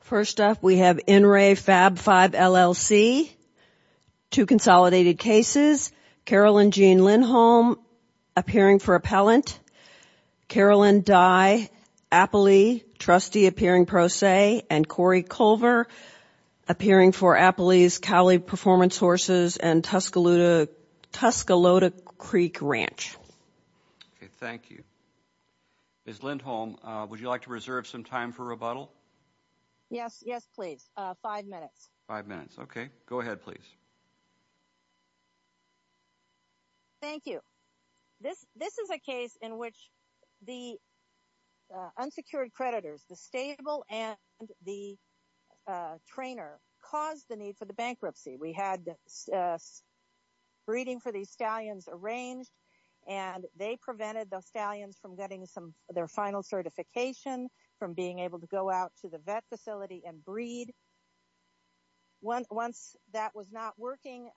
First up, we have NRA Fab 5 LLC, two consolidated cases, Carolyn Jean Lindholm appearing for appellant, Carolyn Dye-Appley, trustee appearing pro se, and Corey Culver appearing for Appley's Cowley Performance Horses and Tuscaloosa Creek Ranch. Thank you. Ms. Lindholm, would you like to reserve some time for rebuttal? Yes, yes, please. Five minutes. Five minutes. Okay. Go ahead, please. Thank you. This is a case in which the unsecured creditors, the stable and the trainer, caused the need for the bankruptcy. We had breeding for these stallions arranged, and they prevented the stallions from getting their final certification, from being able to go out to the vet facility and breed. Once that was not working,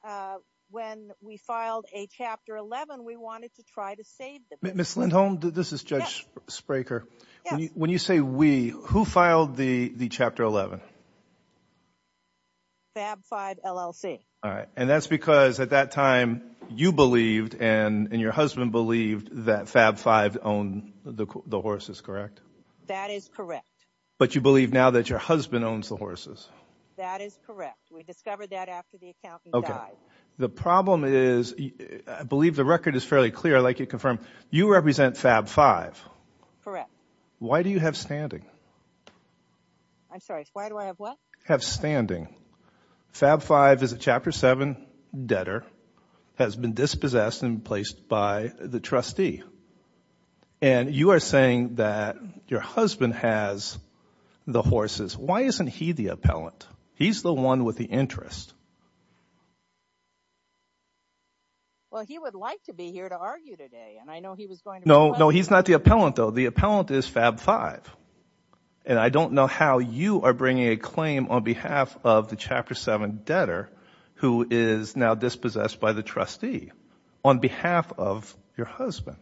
when we filed a Chapter 11, we wanted to try to save them. Ms. Lindholm, this is Judge Spraker. When you say we, who filed the Chapter 11? FAB 5 LLC. All right. And that's because at that time, you believed and your husband believed that FAB 5 owned the horses, correct? That is correct. But you believe now that your husband owns the horses? That is correct. We discovered that after the accountant died. The problem is, I believe the record is fairly clear, I'd like you to confirm, you represent FAB 5? Correct. Why do you have standing? I'm sorry. Why do I have what? Have standing. FAB 5 is a Chapter 7 debtor, has been dispossessed and replaced by the trustee. And you are saying that your husband has the horses. Why isn't he the appellant? He's the one with the interest. Well, he would like to be here to argue today, and I know he was going to request it. No, no, he's not the appellant, though. The appellant is FAB 5. And I don't know how you are bringing a claim on behalf of the Chapter 7 debtor, who is now dispossessed by the trustee, on behalf of your husband.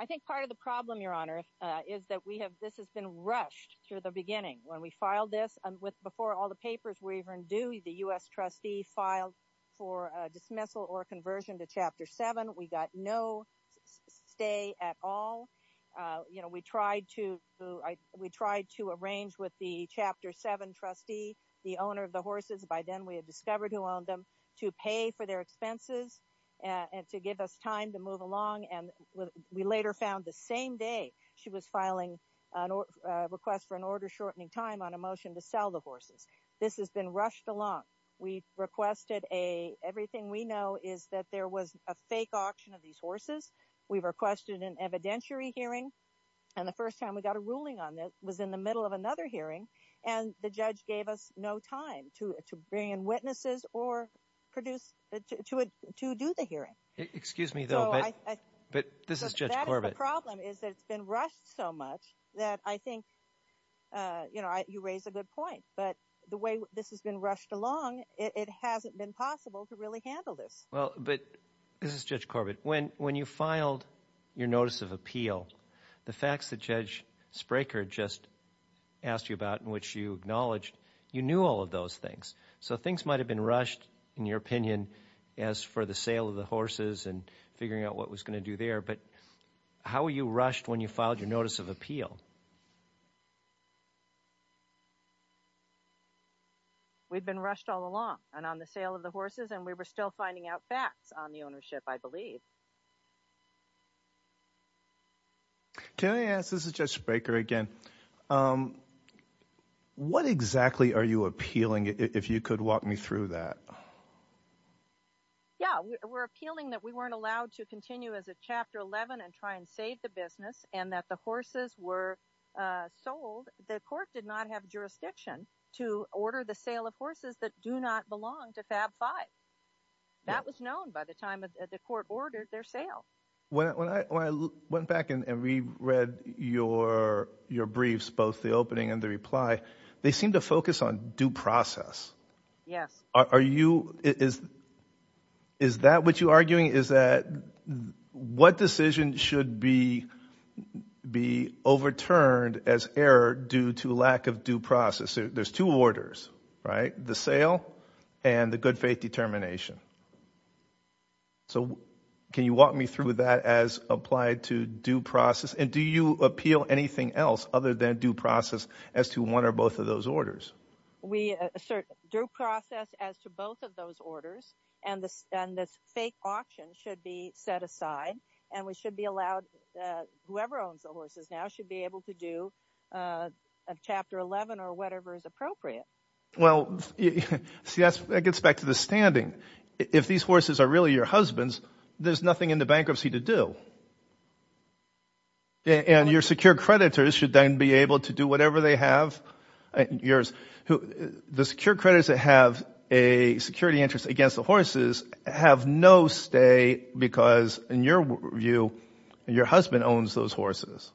I think part of the problem, Your Honor, is that this has been rushed through the beginning. When we filed this, before all the papers were even due, the U.S. trustee filed for a dismissal or conversion to Chapter 7. We got no stay at all. We tried to arrange with the Chapter 7 trustee, the owner of the horses, by then we had discovered who owned them, to pay for their expenses and to give us time to move along. And we later found the same day she was filing a request for an order shortening time on a motion to sell the horses. This has been rushed along. We've requested a—everything we know is that there was a fake auction of these horses. We've requested an evidentiary hearing, and the first time we got a ruling on this was in the middle of another hearing, and the judge gave us no time to bring in witnesses or produce—to do the hearing. Excuse me, though, but this is Judge Corbett. That is the problem, is that it's been rushed so much that I think you raise a good point. But the way this has been rushed along, it hasn't been possible to really handle this. Well, but—this is Judge Corbett. When you filed your notice of appeal, the facts that Judge Spraker just asked you about and which you acknowledged, you knew all of those things. So things might have been rushed, in your opinion, as for the sale of the horses and figuring out what was going to do there, but how were you rushed when you filed your notice of appeal? We've been rushed all along, and on the sale of the horses, and we were still finding out facts on the ownership, I believe. Can I ask—this is Judge Spraker again—what exactly are you appealing, if you could walk me through that? Yeah. We're appealing that we weren't allowed to continue as a Chapter 11 and try and save the business, and that the horses were sold. The court did not have jurisdiction to order the sale of horses that do not belong to FAB 5. That was known by the time the court ordered their sale. When I went back and reread your briefs, both the opening and the reply, they seem to focus on due process. Yes. Are you—is that what you're arguing? What I'm arguing is that what decision should be overturned as error due to lack of due process? There's two orders, right? The sale and the good faith determination. So can you walk me through that as applied to due process, and do you appeal anything else other than due process as to one or both of those orders? We assert due process as to both of those orders, and this fake auction should be set aside, and we should be allowed—whoever owns the horses now should be able to do a Chapter 11 or whatever is appropriate. Well, see, that gets back to the standing. If these horses are really your husband's, there's nothing in the bankruptcy to do. And your secure creditors should then be able to do whatever they have—the secure creditors that have a security interest against the horses have no stay because, in your view, your husband owns those horses,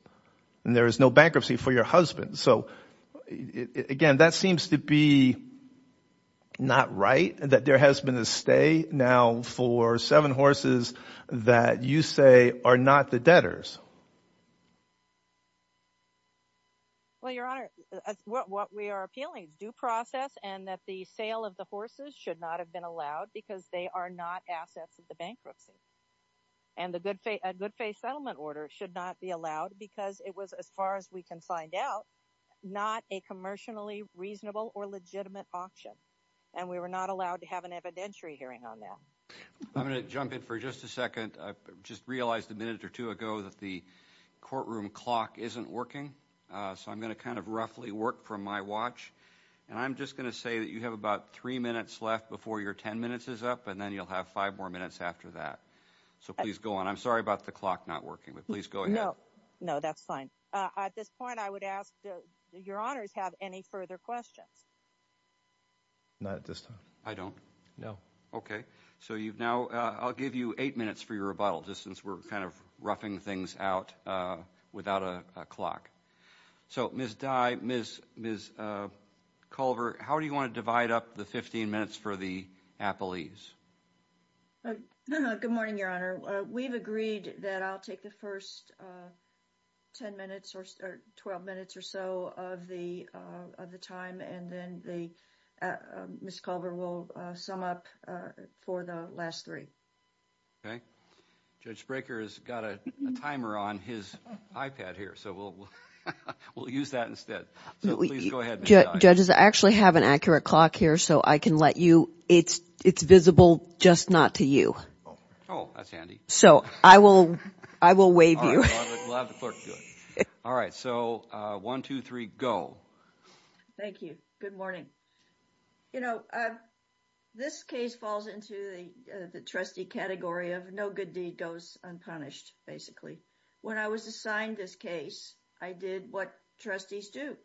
and there is no bankruptcy for your husband. So again, that seems to be not right, that there has been a stay now for seven horses that you say are not the debtors. Well, Your Honor, what we are appealing is due process and that the sale of the horses should not have been allowed because they are not assets of the bankruptcy. And a good faith settlement order should not be allowed because it was, as far as we can find out, not a commercially reasonable or legitimate auction, and we were not allowed to have an evidentiary hearing on that. I'm going to jump in for just a second. I just realized a minute or two ago that the courtroom clock isn't working, so I'm going to kind of roughly work from my watch, and I'm just going to say that you have about three minutes left before your ten minutes is up, and then you'll have five more minutes after that. So please go on. I'm sorry about the clock not working, but please go ahead. No, no, that's fine. At this point, I would ask, do Your Honors have any further questions? Not at this time. I don't? No. Okay. So you've now, I'll give you eight minutes for your rebuttal, just since we're kind of roughing things out without a clock. So Ms. Dye, Ms. Culver, how do you want to divide up the 15 minutes for the appellees? Good morning, Your Honor. We've agreed that I'll take the first ten minutes or 12 minutes or so of the time, and then Ms. Culver will sum up for the last three. Okay. Judge Brekker has got a timer on his iPad here, so we'll use that instead. So please go ahead, Ms. Dye. Judges, I actually have an accurate clock here, so I can let you, it's visible just not to you. Oh, that's handy. So I will waive you. All right, we'll have the clerk do it. All right, so one, two, three, go. Thank you. Good morning. You know, this case falls into the trustee category of no good deed goes unpunished, basically. When I was assigned this case, I did what trustees do.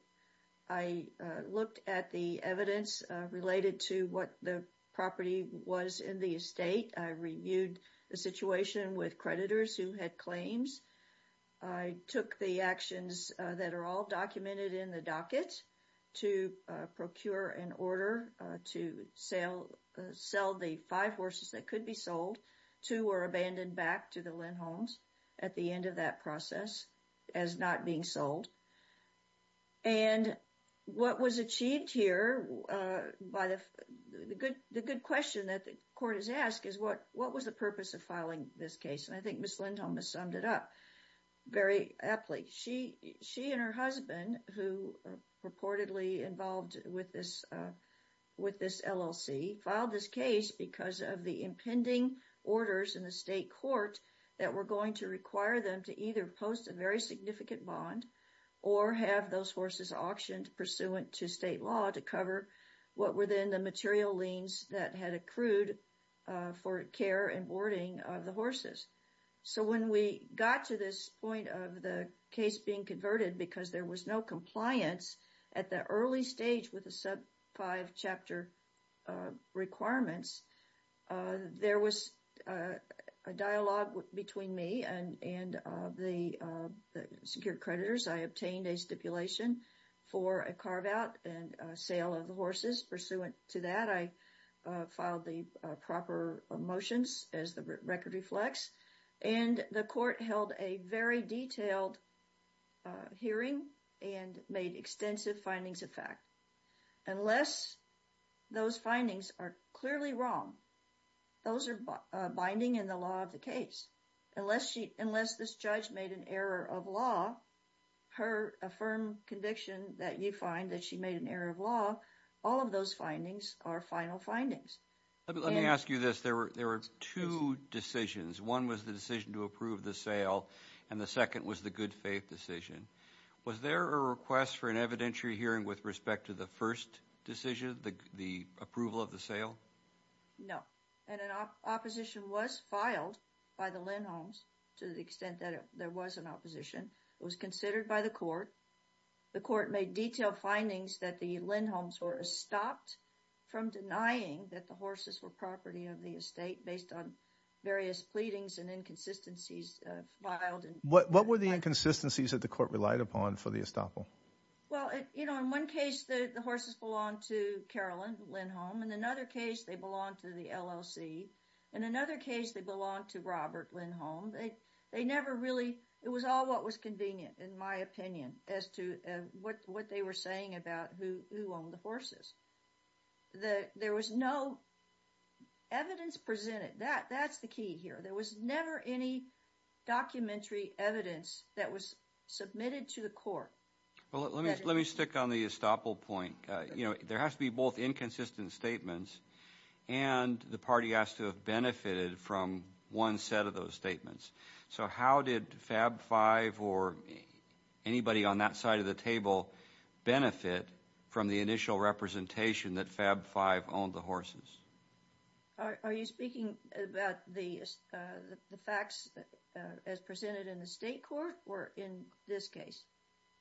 I looked at the evidence related to what the property was in the estate. I reviewed the situation with creditors who had claims. I took the actions that are all documented in the docket to procure an order to sell the five horses that could be sold. Two were abandoned back to the Lindholms at the end of that process as not being sold. And what was achieved here by the good question that the court has asked is what was the purpose of filing this case? And I think Ms. Lindholm has summed it up very aptly. She and her husband, who reportedly involved with this LLC, filed this case because of the impending orders in the state court that were going to require them to either post a very significant bond or have those horses auctioned pursuant to state law to cover what were then the material liens that had accrued for care and boarding of the horses. So when we got to this point of the case being converted because there was no compliance at the early stage with the sub five chapter requirements, there was a dialogue between me and the secured creditors. I obtained a stipulation for a carve out and sale of the horses pursuant to that. I filed the proper motions as the record reflects and the court held a very detailed hearing and made extensive findings of fact. Unless those findings are clearly wrong, those are binding in the law of the case. Unless this judge made an error of law, her firm conviction that you find that she made an error of law, all of those findings are final findings. Let me ask you this. There were two decisions. One was the decision to approve the sale and the second was the good faith decision. Was there a request for an evidentiary hearing with respect to the first decision, the approval of the sale? No. And an opposition was filed by the Lindholms to the extent that there was an opposition. It was considered by the court. The court made detailed findings that the Lindholms were stopped from denying that the horses were property of the estate based on various pleadings and inconsistencies filed. What were the inconsistencies that the court relied upon for the estoppel? Well, you know, in one case, the horses belong to Carolyn Lindholm and in another case they belong to the LLC. In another case they belong to Robert Lindholm. They never really, it was all what was convenient in my opinion as to what they were saying about who owned the horses. There was no evidence presented. That's the key here. There was never any documentary evidence that was submitted to the court. Let me stick on the estoppel point. There has to be both inconsistent statements and the party has to have benefited from one set of those statements. So how did FAB 5 or anybody on that side of the table benefit from the initial representation that FAB 5 owned the horses? Are you speaking about the facts as presented in the state court or in this case?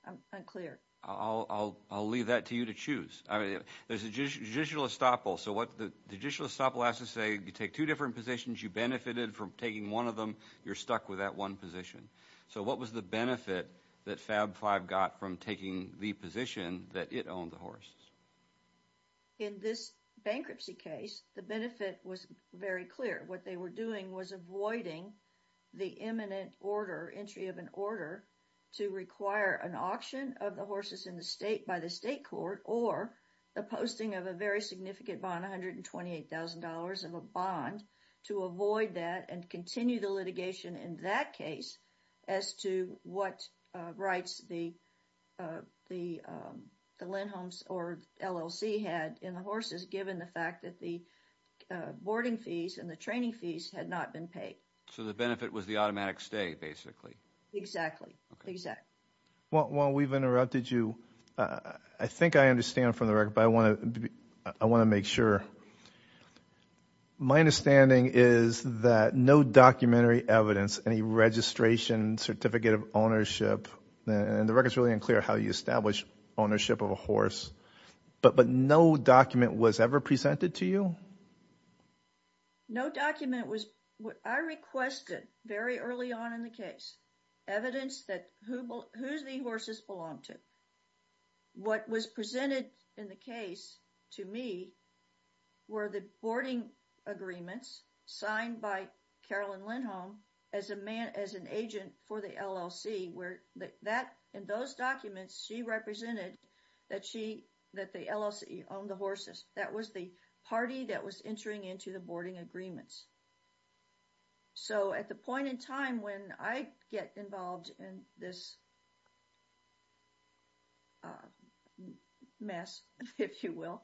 I'm unclear. I'll leave that to you to choose. I mean, there's a judicial estoppel, so the judicial estoppel has to say you take two different positions, you benefited from taking one of them, you're stuck with that one position. So what was the benefit that FAB 5 got from taking the position that it owned the horses? In this bankruptcy case, the benefit was very clear. What they were doing was avoiding the imminent order, entry of an order, to require an auction of the horses by the state court or the posting of a very significant bond, $128,000 of a bond, to avoid that and continue the litigation in that case as to what rights the Lindholms or LLC had in the horses given the fact that the boarding fees and the training fees had not been paid. So the benefit was the automatic stay, basically. Exactly. While we've interrupted you, I think I understand from the record, but I want to make sure. My understanding is that no documentary evidence, any registration, certificate of ownership, and the record's really unclear how you establish ownership of a horse, but no document was ever presented to you? No document was, what I requested very early on in the case, evidence that who the horses belonged to. What was presented in the case to me were the boarding agreements signed by Carolyn Lindholm as an agent for the LLC where that, in those documents, she represented that she, that the LLC owned the horses. That was the party that was entering into the boarding agreements. So at the point in time when I get involved in this mess, if you will,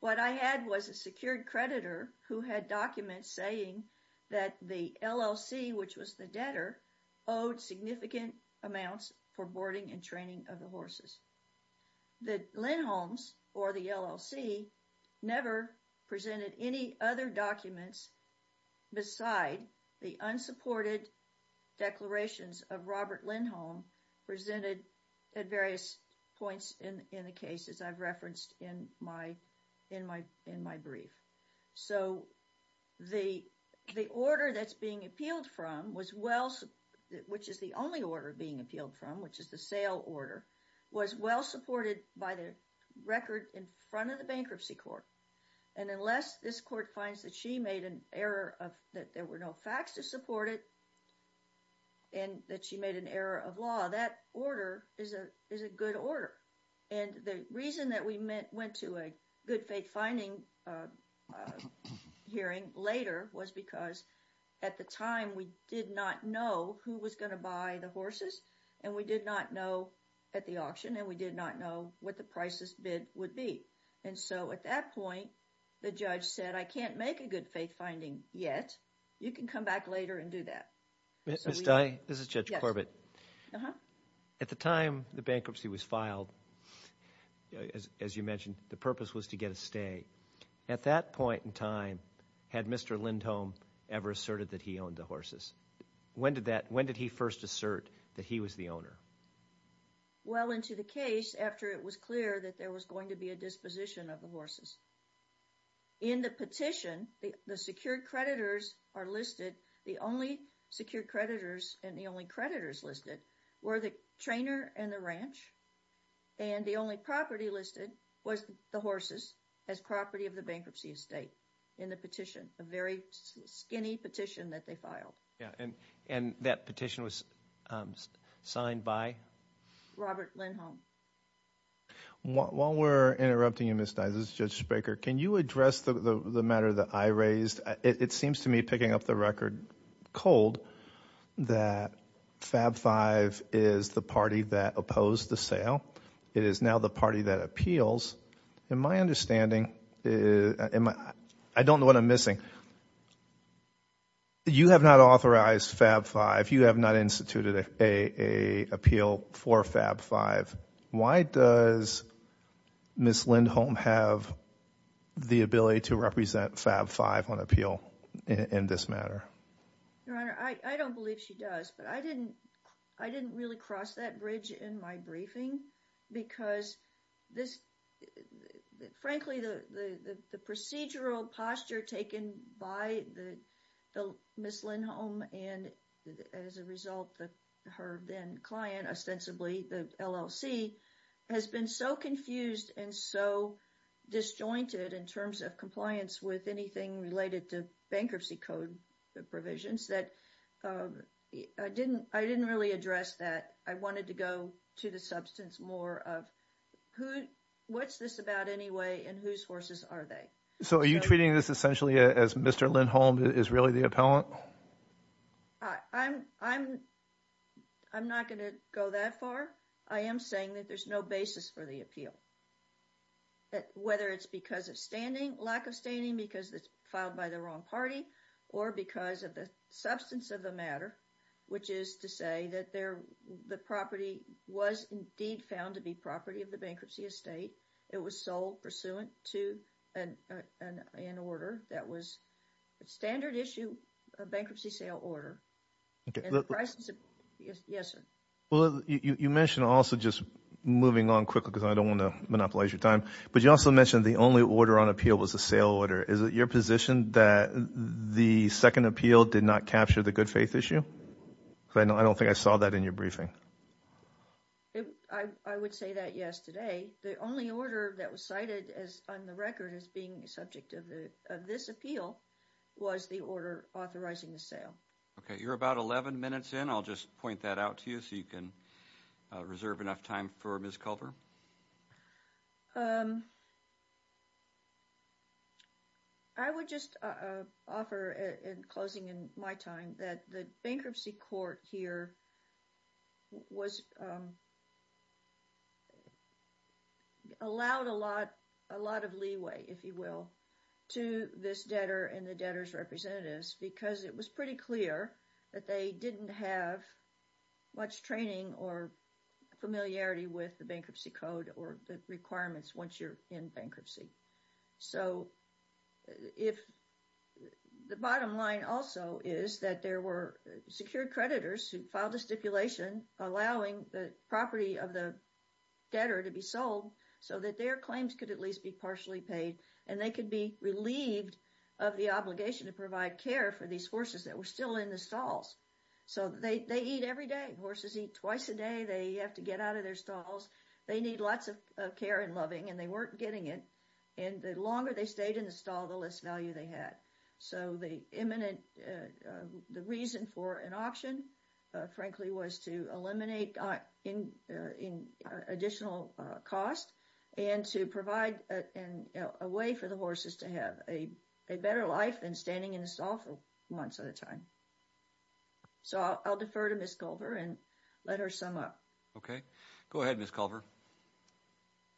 what I had was a secured creditor who had documents saying that the LLC, which was the debtor, owed significant amounts for boarding and training of the horses. The Lindholms or the LLC never presented any other documents beside the unsupported declarations of Robert Lindholm presented at various points in the case as I've referenced in my brief. So the order that's being appealed from was well, which is the only order being appealed from, which is the sale order, was well supported by the record in front of the bankruptcy court. And unless this court finds that she made an error of, that there were no facts to support it and that she made an error of law, that order is a, is a good order. And the reason that we went to a good faith finding hearing later was because at the time we did not know who was going to buy the horses and we did not know at the auction and we did not know what the prices bid would be. And so at that point, the judge said, I can't make a good faith finding yet. You can come back later and do that. So we... Ms. Dye, this is Judge Corbett. Uh-huh. At the time the bankruptcy was filed, as you mentioned, the purpose was to get a stay. At that point in time, had Mr. Lindholm ever asserted that he owned the horses? When did that, when did he first assert that he was the owner? Well, into the case after it was clear that there was going to be a disposition of the In the petition, the secured creditors are listed. The only secured creditors and the only creditors listed were the trainer and the ranch. And the only property listed was the horses as property of the bankruptcy estate in the petition, a very skinny petition that they filed. And that petition was signed by... Robert Lindholm. While we're interrupting you, Ms. Dye, this is Judge Spraker. Can you address the matter that I raised? It seems to me, picking up the record cold, that FAB 5 is the party that opposed the sale. It is now the party that appeals. In my understanding, I don't know what I'm missing. You have not authorized FAB 5. You have not instituted a appeal for FAB 5. Why does Ms. Lindholm have the ability to represent FAB 5 on appeal in this matter? Your Honor, I don't believe she does, but I didn't really cross that bridge in my briefing because this... frankly, the procedural posture taken by Ms. Lindholm and as a result her then client, ostensibly the LLC, has been so confused and so disjointed in terms of compliance with anything related to bankruptcy code provisions that I didn't really address that. I wanted to go to the substance more of who... what's this about anyway and whose horses are they? So are you treating this essentially as Mr. Lindholm is really the appellant? I'm not going to go that far. I am saying that there's no basis for the appeal, whether it's because of lack of standing because it's filed by the wrong party or because of the substance of the matter, which is to say that the property was indeed found to be property of the bankruptcy estate. It was sold pursuant to an order that was a standard issue bankruptcy sale order. And the prices... yes, sir. Well, you mentioned also, just moving on quickly because I don't want to monopolize your time, but you also mentioned the only order on appeal was a sale order. Is it your position that the second appeal did not capture the good faith issue? I don't think I saw that in your briefing. I would say that, yes, today. The only order that was cited on the record as being subject of this appeal was the order authorizing the sale. Okay. You're about 11 minutes in. I'll just point that out to you so you can reserve enough time for Ms. Culver. I would just offer, in closing in my time, that the bankruptcy court here allowed a lot of leeway, if you will, to this debtor and the debtor's representatives because it was pretty clear that they didn't have much training or familiarity with the bankruptcy court. Or the requirements once you're in bankruptcy. So, the bottom line also is that there were secured creditors who filed a stipulation allowing the property of the debtor to be sold so that their claims could at least be partially paid and they could be relieved of the obligation to provide care for these horses that were still in the stalls. So, they eat every day. Horses eat twice a day. They have to get out of their stalls. They need lots of care and loving and they weren't getting it. And the longer they stayed in the stall, the less value they had. So, the reason for an auction, frankly, was to eliminate additional cost and to provide a way for the horses to have a better life than standing in the stall for months at a time. So, I'll defer to Ms. Culver and let her sum up. Okay. Go ahead, Ms. Culver.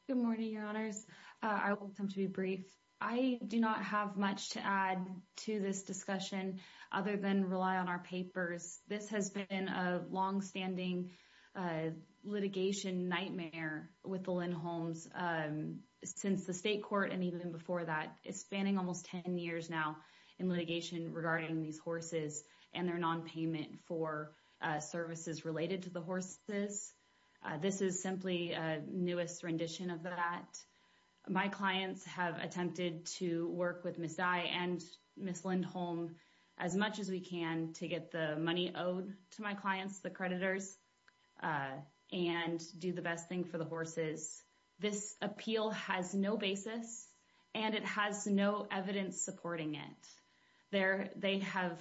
Good morning, your honors. I will come to be brief. I do not have much to add to this discussion other than rely on our papers. This has been a long-standing litigation nightmare with the Lindholms since the state court and even before that. It's spanning almost 10 years now in litigation regarding these horses and their non-payment for services related to the horses. This is simply a newest rendition of that. My clients have attempted to work with Ms. Dye and Ms. Lindholm as much as we can to get the money owed to my clients, the creditors, and do the best thing for the horses. This appeal has no basis and it has no evidence supporting it. There, they have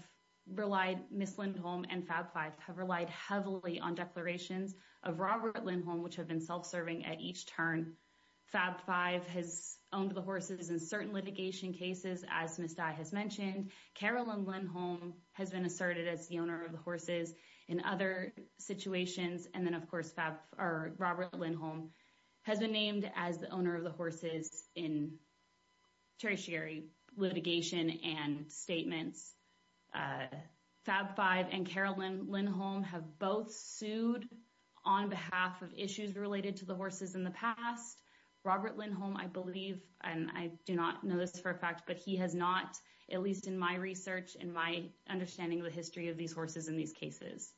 relied, Ms. Lindholm and Fab 5, have relied heavily on declarations of Robert Lindholm, which have been self-serving at each turn. Fab 5 has owned the horses in certain litigation cases, as Ms. Dye has mentioned. Carolyn Lindholm has been asserted as the owner of the horses in other situations. And then, of course, Robert Lindholm has been named as the owner of the horses in tertiary litigation and statements. Fab 5 and Carolyn Lindholm have both sued on behalf of issues related to the horses in the past. Robert Lindholm, I believe, and I do not know this for a fact, but he has not, at least in my research and my understanding of the history of these horses in these cases.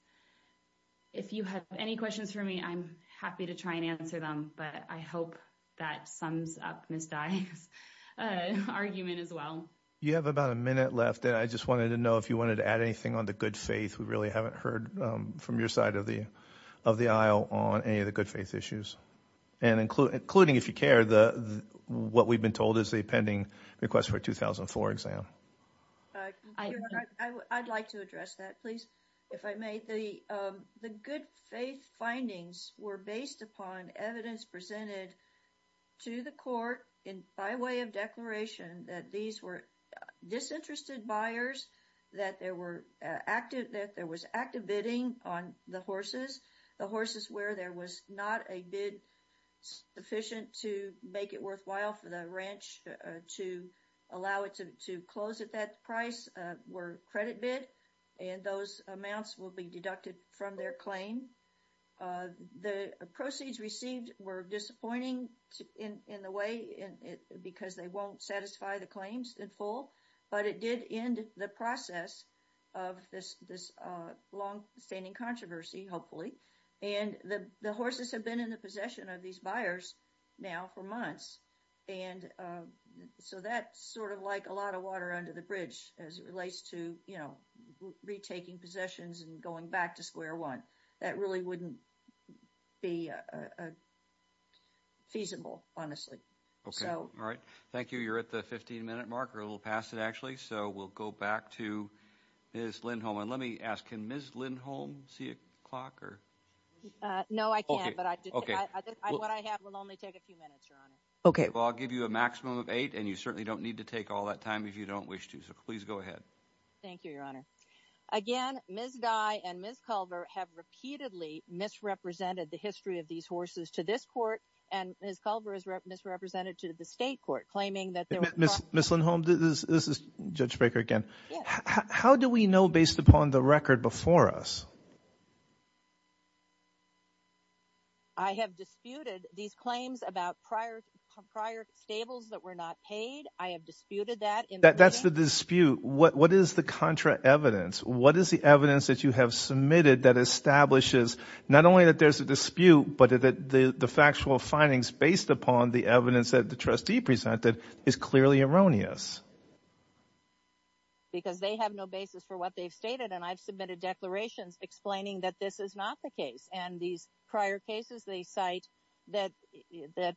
If you have any questions for me, I'm happy to try and answer them, but I hope that sums up Ms. Dye's argument as well. You have about a minute left, and I just wanted to know if you wanted to add anything on the good faith. We really haven't heard from your side of the aisle on any of the good faith issues, and including, if you care, what we've been told is the pending request for a 2004 exam. I'd like to address that, please, if I may. The good faith findings were based upon evidence presented to the court by way of declaration that these were disinterested buyers, that there was active bidding on the horses. The horses where there was not a bid sufficient to make it worthwhile for the ranch to allow to close at that price were credit bid, and those amounts will be deducted from their claim. The proceeds received were disappointing in the way because they won't satisfy the claims in full, but it did end the process of this long-standing controversy, hopefully, and the horses have been in the possession of these buyers now for months, and so that's sort of like a lot of water under the bridge as it relates to, you know, retaking possessions and going back to square one. That really wouldn't be feasible, honestly. Okay, all right. Thank you. You're at the 15-minute mark. We're a little past it, actually, so we'll go back to Ms. Lindholm, and let me ask, can Ms. Lindholm see a clock? No, I can't, but what I have will only take a few minutes, Your Honor. Okay. Well, I'll give you a maximum of eight, and you certainly don't need to take all that time if you don't wish to, so please go ahead. Thank you, Your Honor. Again, Ms. Dye and Ms. Culver have repeatedly misrepresented the history of these horses to this court, and Ms. Culver is misrepresented to the state court, claiming that there was... Ms. Lindholm, this is Judge Baker again. How do we know based upon the record before us? I have disputed these claims about prior stables that were not paid. I have disputed that. That's the dispute. What is the contra evidence? What is the evidence that you have submitted that establishes not only that there's a dispute, but that the factual findings based upon the evidence that the trustee presented is clearly erroneous? Because they have no basis for what they've stated, and I've submitted declarations explaining that this is not the case, and these prior cases they cite that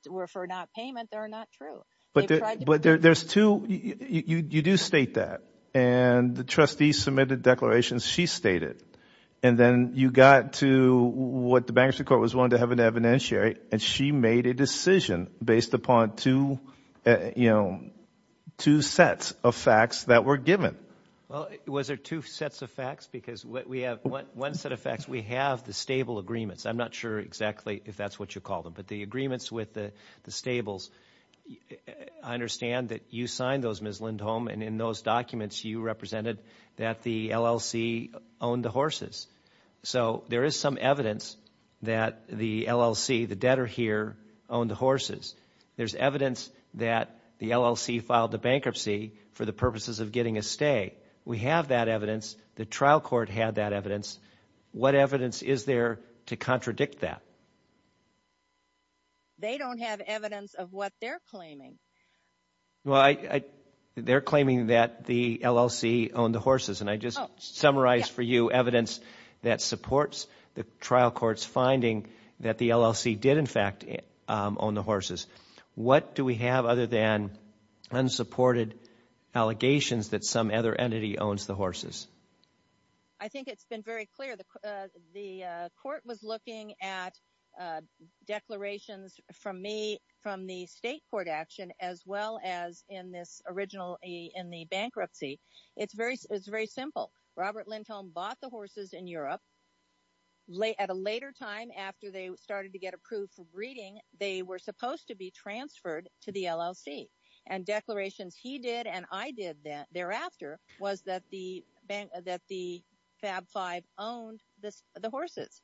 were for not payment, they're not true. But there's two... You do state that, and the trustee submitted declarations she stated, and then you got to what the bankruptcy court was willing to have an evidentiary, and she made a decision based upon two sets of facts that were given. Well, was there two sets of facts? Because we have one set of facts. We have the stable agreements. I'm not sure exactly if that's what you call them, but the agreements with the stables. I understand that you signed those, Ms. Lindholm, and in those documents you represented that the LLC owned the horses. So there is some evidence that the LLC, the debtor here, owned the horses. There's evidence that the LLC filed the bankruptcy for the purposes of getting a stay. We have that evidence. The trial court had that evidence. What evidence is there to contradict that? They don't have evidence of what they're claiming. Well, they're claiming that the LLC owned the horses, and I just summarized for you evidence that supports the trial court's finding that the LLC did in fact own the horses. What do we have other than unsupported allegations that some other entity owns the horses? I think it's been very clear. The court was looking at declarations from me, from the state court action, as well as in this original, in the bankruptcy. It's very simple. Robert Lindholm bought the horses in Europe. At a later time, after they started to get approved for breeding, they were supposed to be transferred to the LLC. And declarations he did and I did thereafter was that the FAB 5 owned the horses.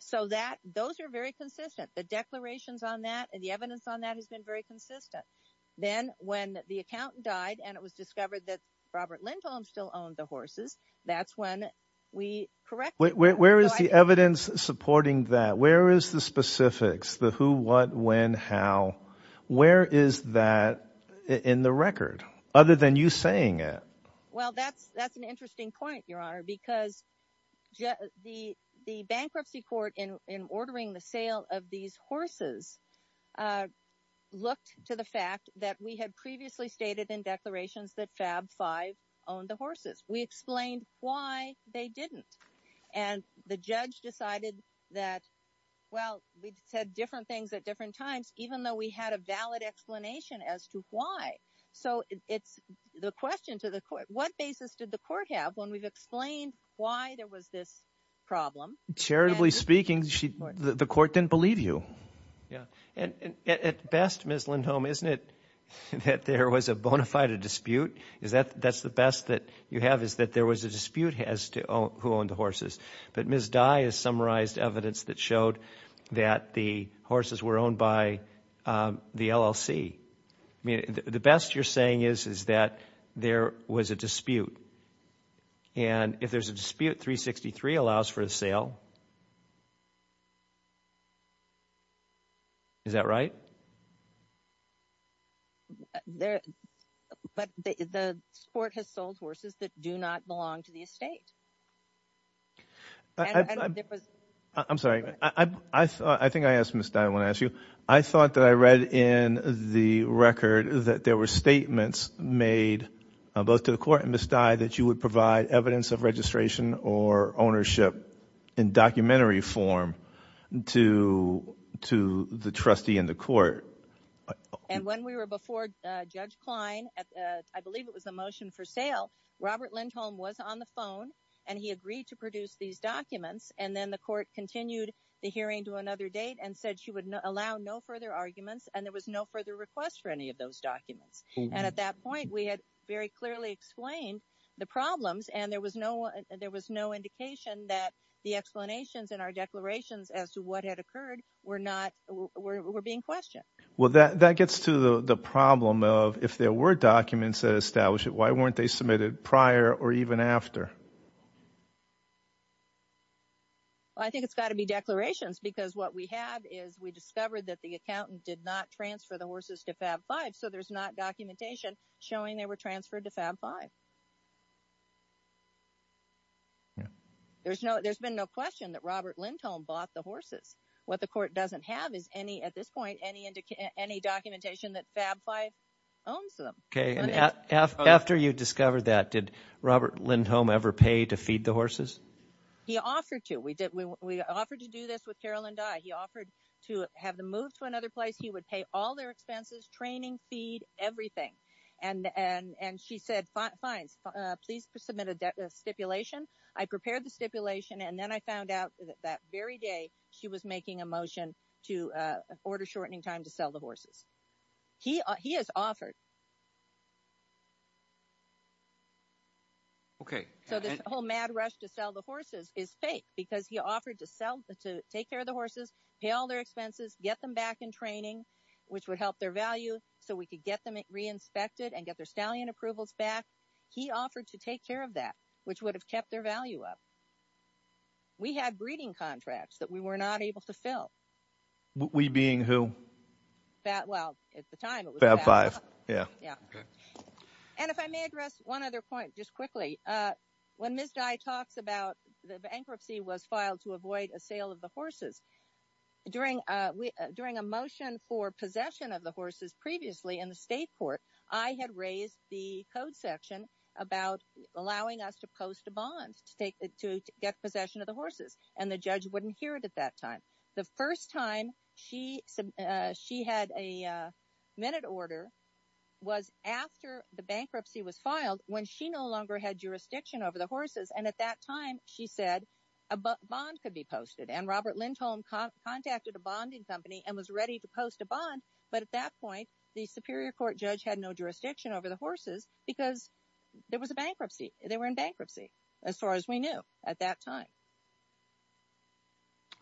So those are very consistent. The declarations on that and the evidence on that has been very consistent. Then when the accountant died and it was discovered that Robert Lindholm still owned the horses, that's when we corrected. Where is the evidence supporting that? Where is the specifics? The who, what, when, how? Where is that in the record other than you saying it? Well, that's an interesting point, Your Honor, because the bankruptcy court in ordering the horses looked to the fact that we had previously stated in declarations that FAB 5 owned the We explained why they didn't. And the judge decided that, well, we've said different things at different times, even though we had a valid explanation as to why. So it's the question to the court, what basis did the court have when we've explained why there was this problem? Charitably speaking, the court didn't believe you. Yeah. And at best, Ms. Lindholm, isn't it that there was a bona fide dispute? That's the best that you have is that there was a dispute as to who owned the horses. But Ms. Dye has summarized evidence that showed that the horses were owned by the LLC. The best you're saying is that there was a dispute. And if there's a dispute, 363 allows for a sale. Is that right? But the court has sold horses that do not belong to the estate. I'm sorry. I think I asked Ms. Dye when I asked you. I thought that I read in the record that there were statements made both to the court and Ms. Dye that you would provide evidence of registration or ownership in documentary form to the trustee in the court. And when we were before Judge Klein, I believe it was the motion for sale, Robert Lindholm was on the phone and he agreed to produce these documents. And then the court continued the hearing to another date and said she would allow no further arguments and there was no further request for any of those documents. And at that point, we had very clearly explained the problems. And there was no there was no indication that the explanations in our declarations as to what had occurred were not were being questioned. Well, that gets to the problem of if there were documents that establish it, why weren't they submitted prior or even after? I think it's got to be declarations, because what we have is we discovered that the accountant did not transfer the horses to Fab 5. So there's not documentation showing they were transferred to Fab 5. There's no there's been no question that Robert Lindholm bought the horses. What the court doesn't have is any at this point any any documentation that Fab 5 owns them. OK, and after you discovered that, did Robert Lindholm ever pay to feed the horses? He offered to. We did. We offered to do this with Carolyn Dye. He offered to have them move to another place. He would pay all their expenses, training, feed everything. And and she said, fine, please submit a stipulation. I prepared the stipulation and then I found out that very day she was making a motion to order shortening time to sell the horses. He he has offered. OK, so this whole mad rush to sell the horses is fake because he offered to sell to take care of the horses, pay all their expenses, get them back in training, which would help their value so we could get them reinspected and get their stallion approvals back. He offered to take care of that, which would have kept their value up. We had breeding contracts that we were not able to fill. We being who? Well, at the time, it was Fab 5. Yeah, yeah. And if I may address one other point just quickly, when Ms. Dye talks about the bankruptcy was filed to avoid a sale of the horses during during a motion for possession of the horses previously in the state court, I had raised the code section about allowing us to post a bond to take to get possession of the horses and the judge wouldn't hear it at that time. The first time she said she had a minute order was after the bankruptcy was filed when she no longer had jurisdiction over the horses. And at that time, she said a bond could be posted. And Robert Lindholm contacted a bonding company and was ready to post a bond. But at that point, the Superior Court judge had no jurisdiction over the horses because there was a bankruptcy. They were in bankruptcy as far as we knew at that time.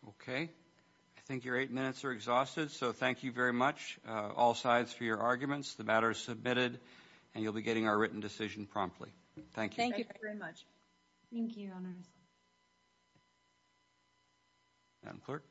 OK, I think your eight minutes are exhausted. So thank you very much, all sides, for your arguments. The matter is submitted and you'll be getting our written decision promptly. Thank you. Thank you very much. Thank you, Your Honor. Madam Clerk.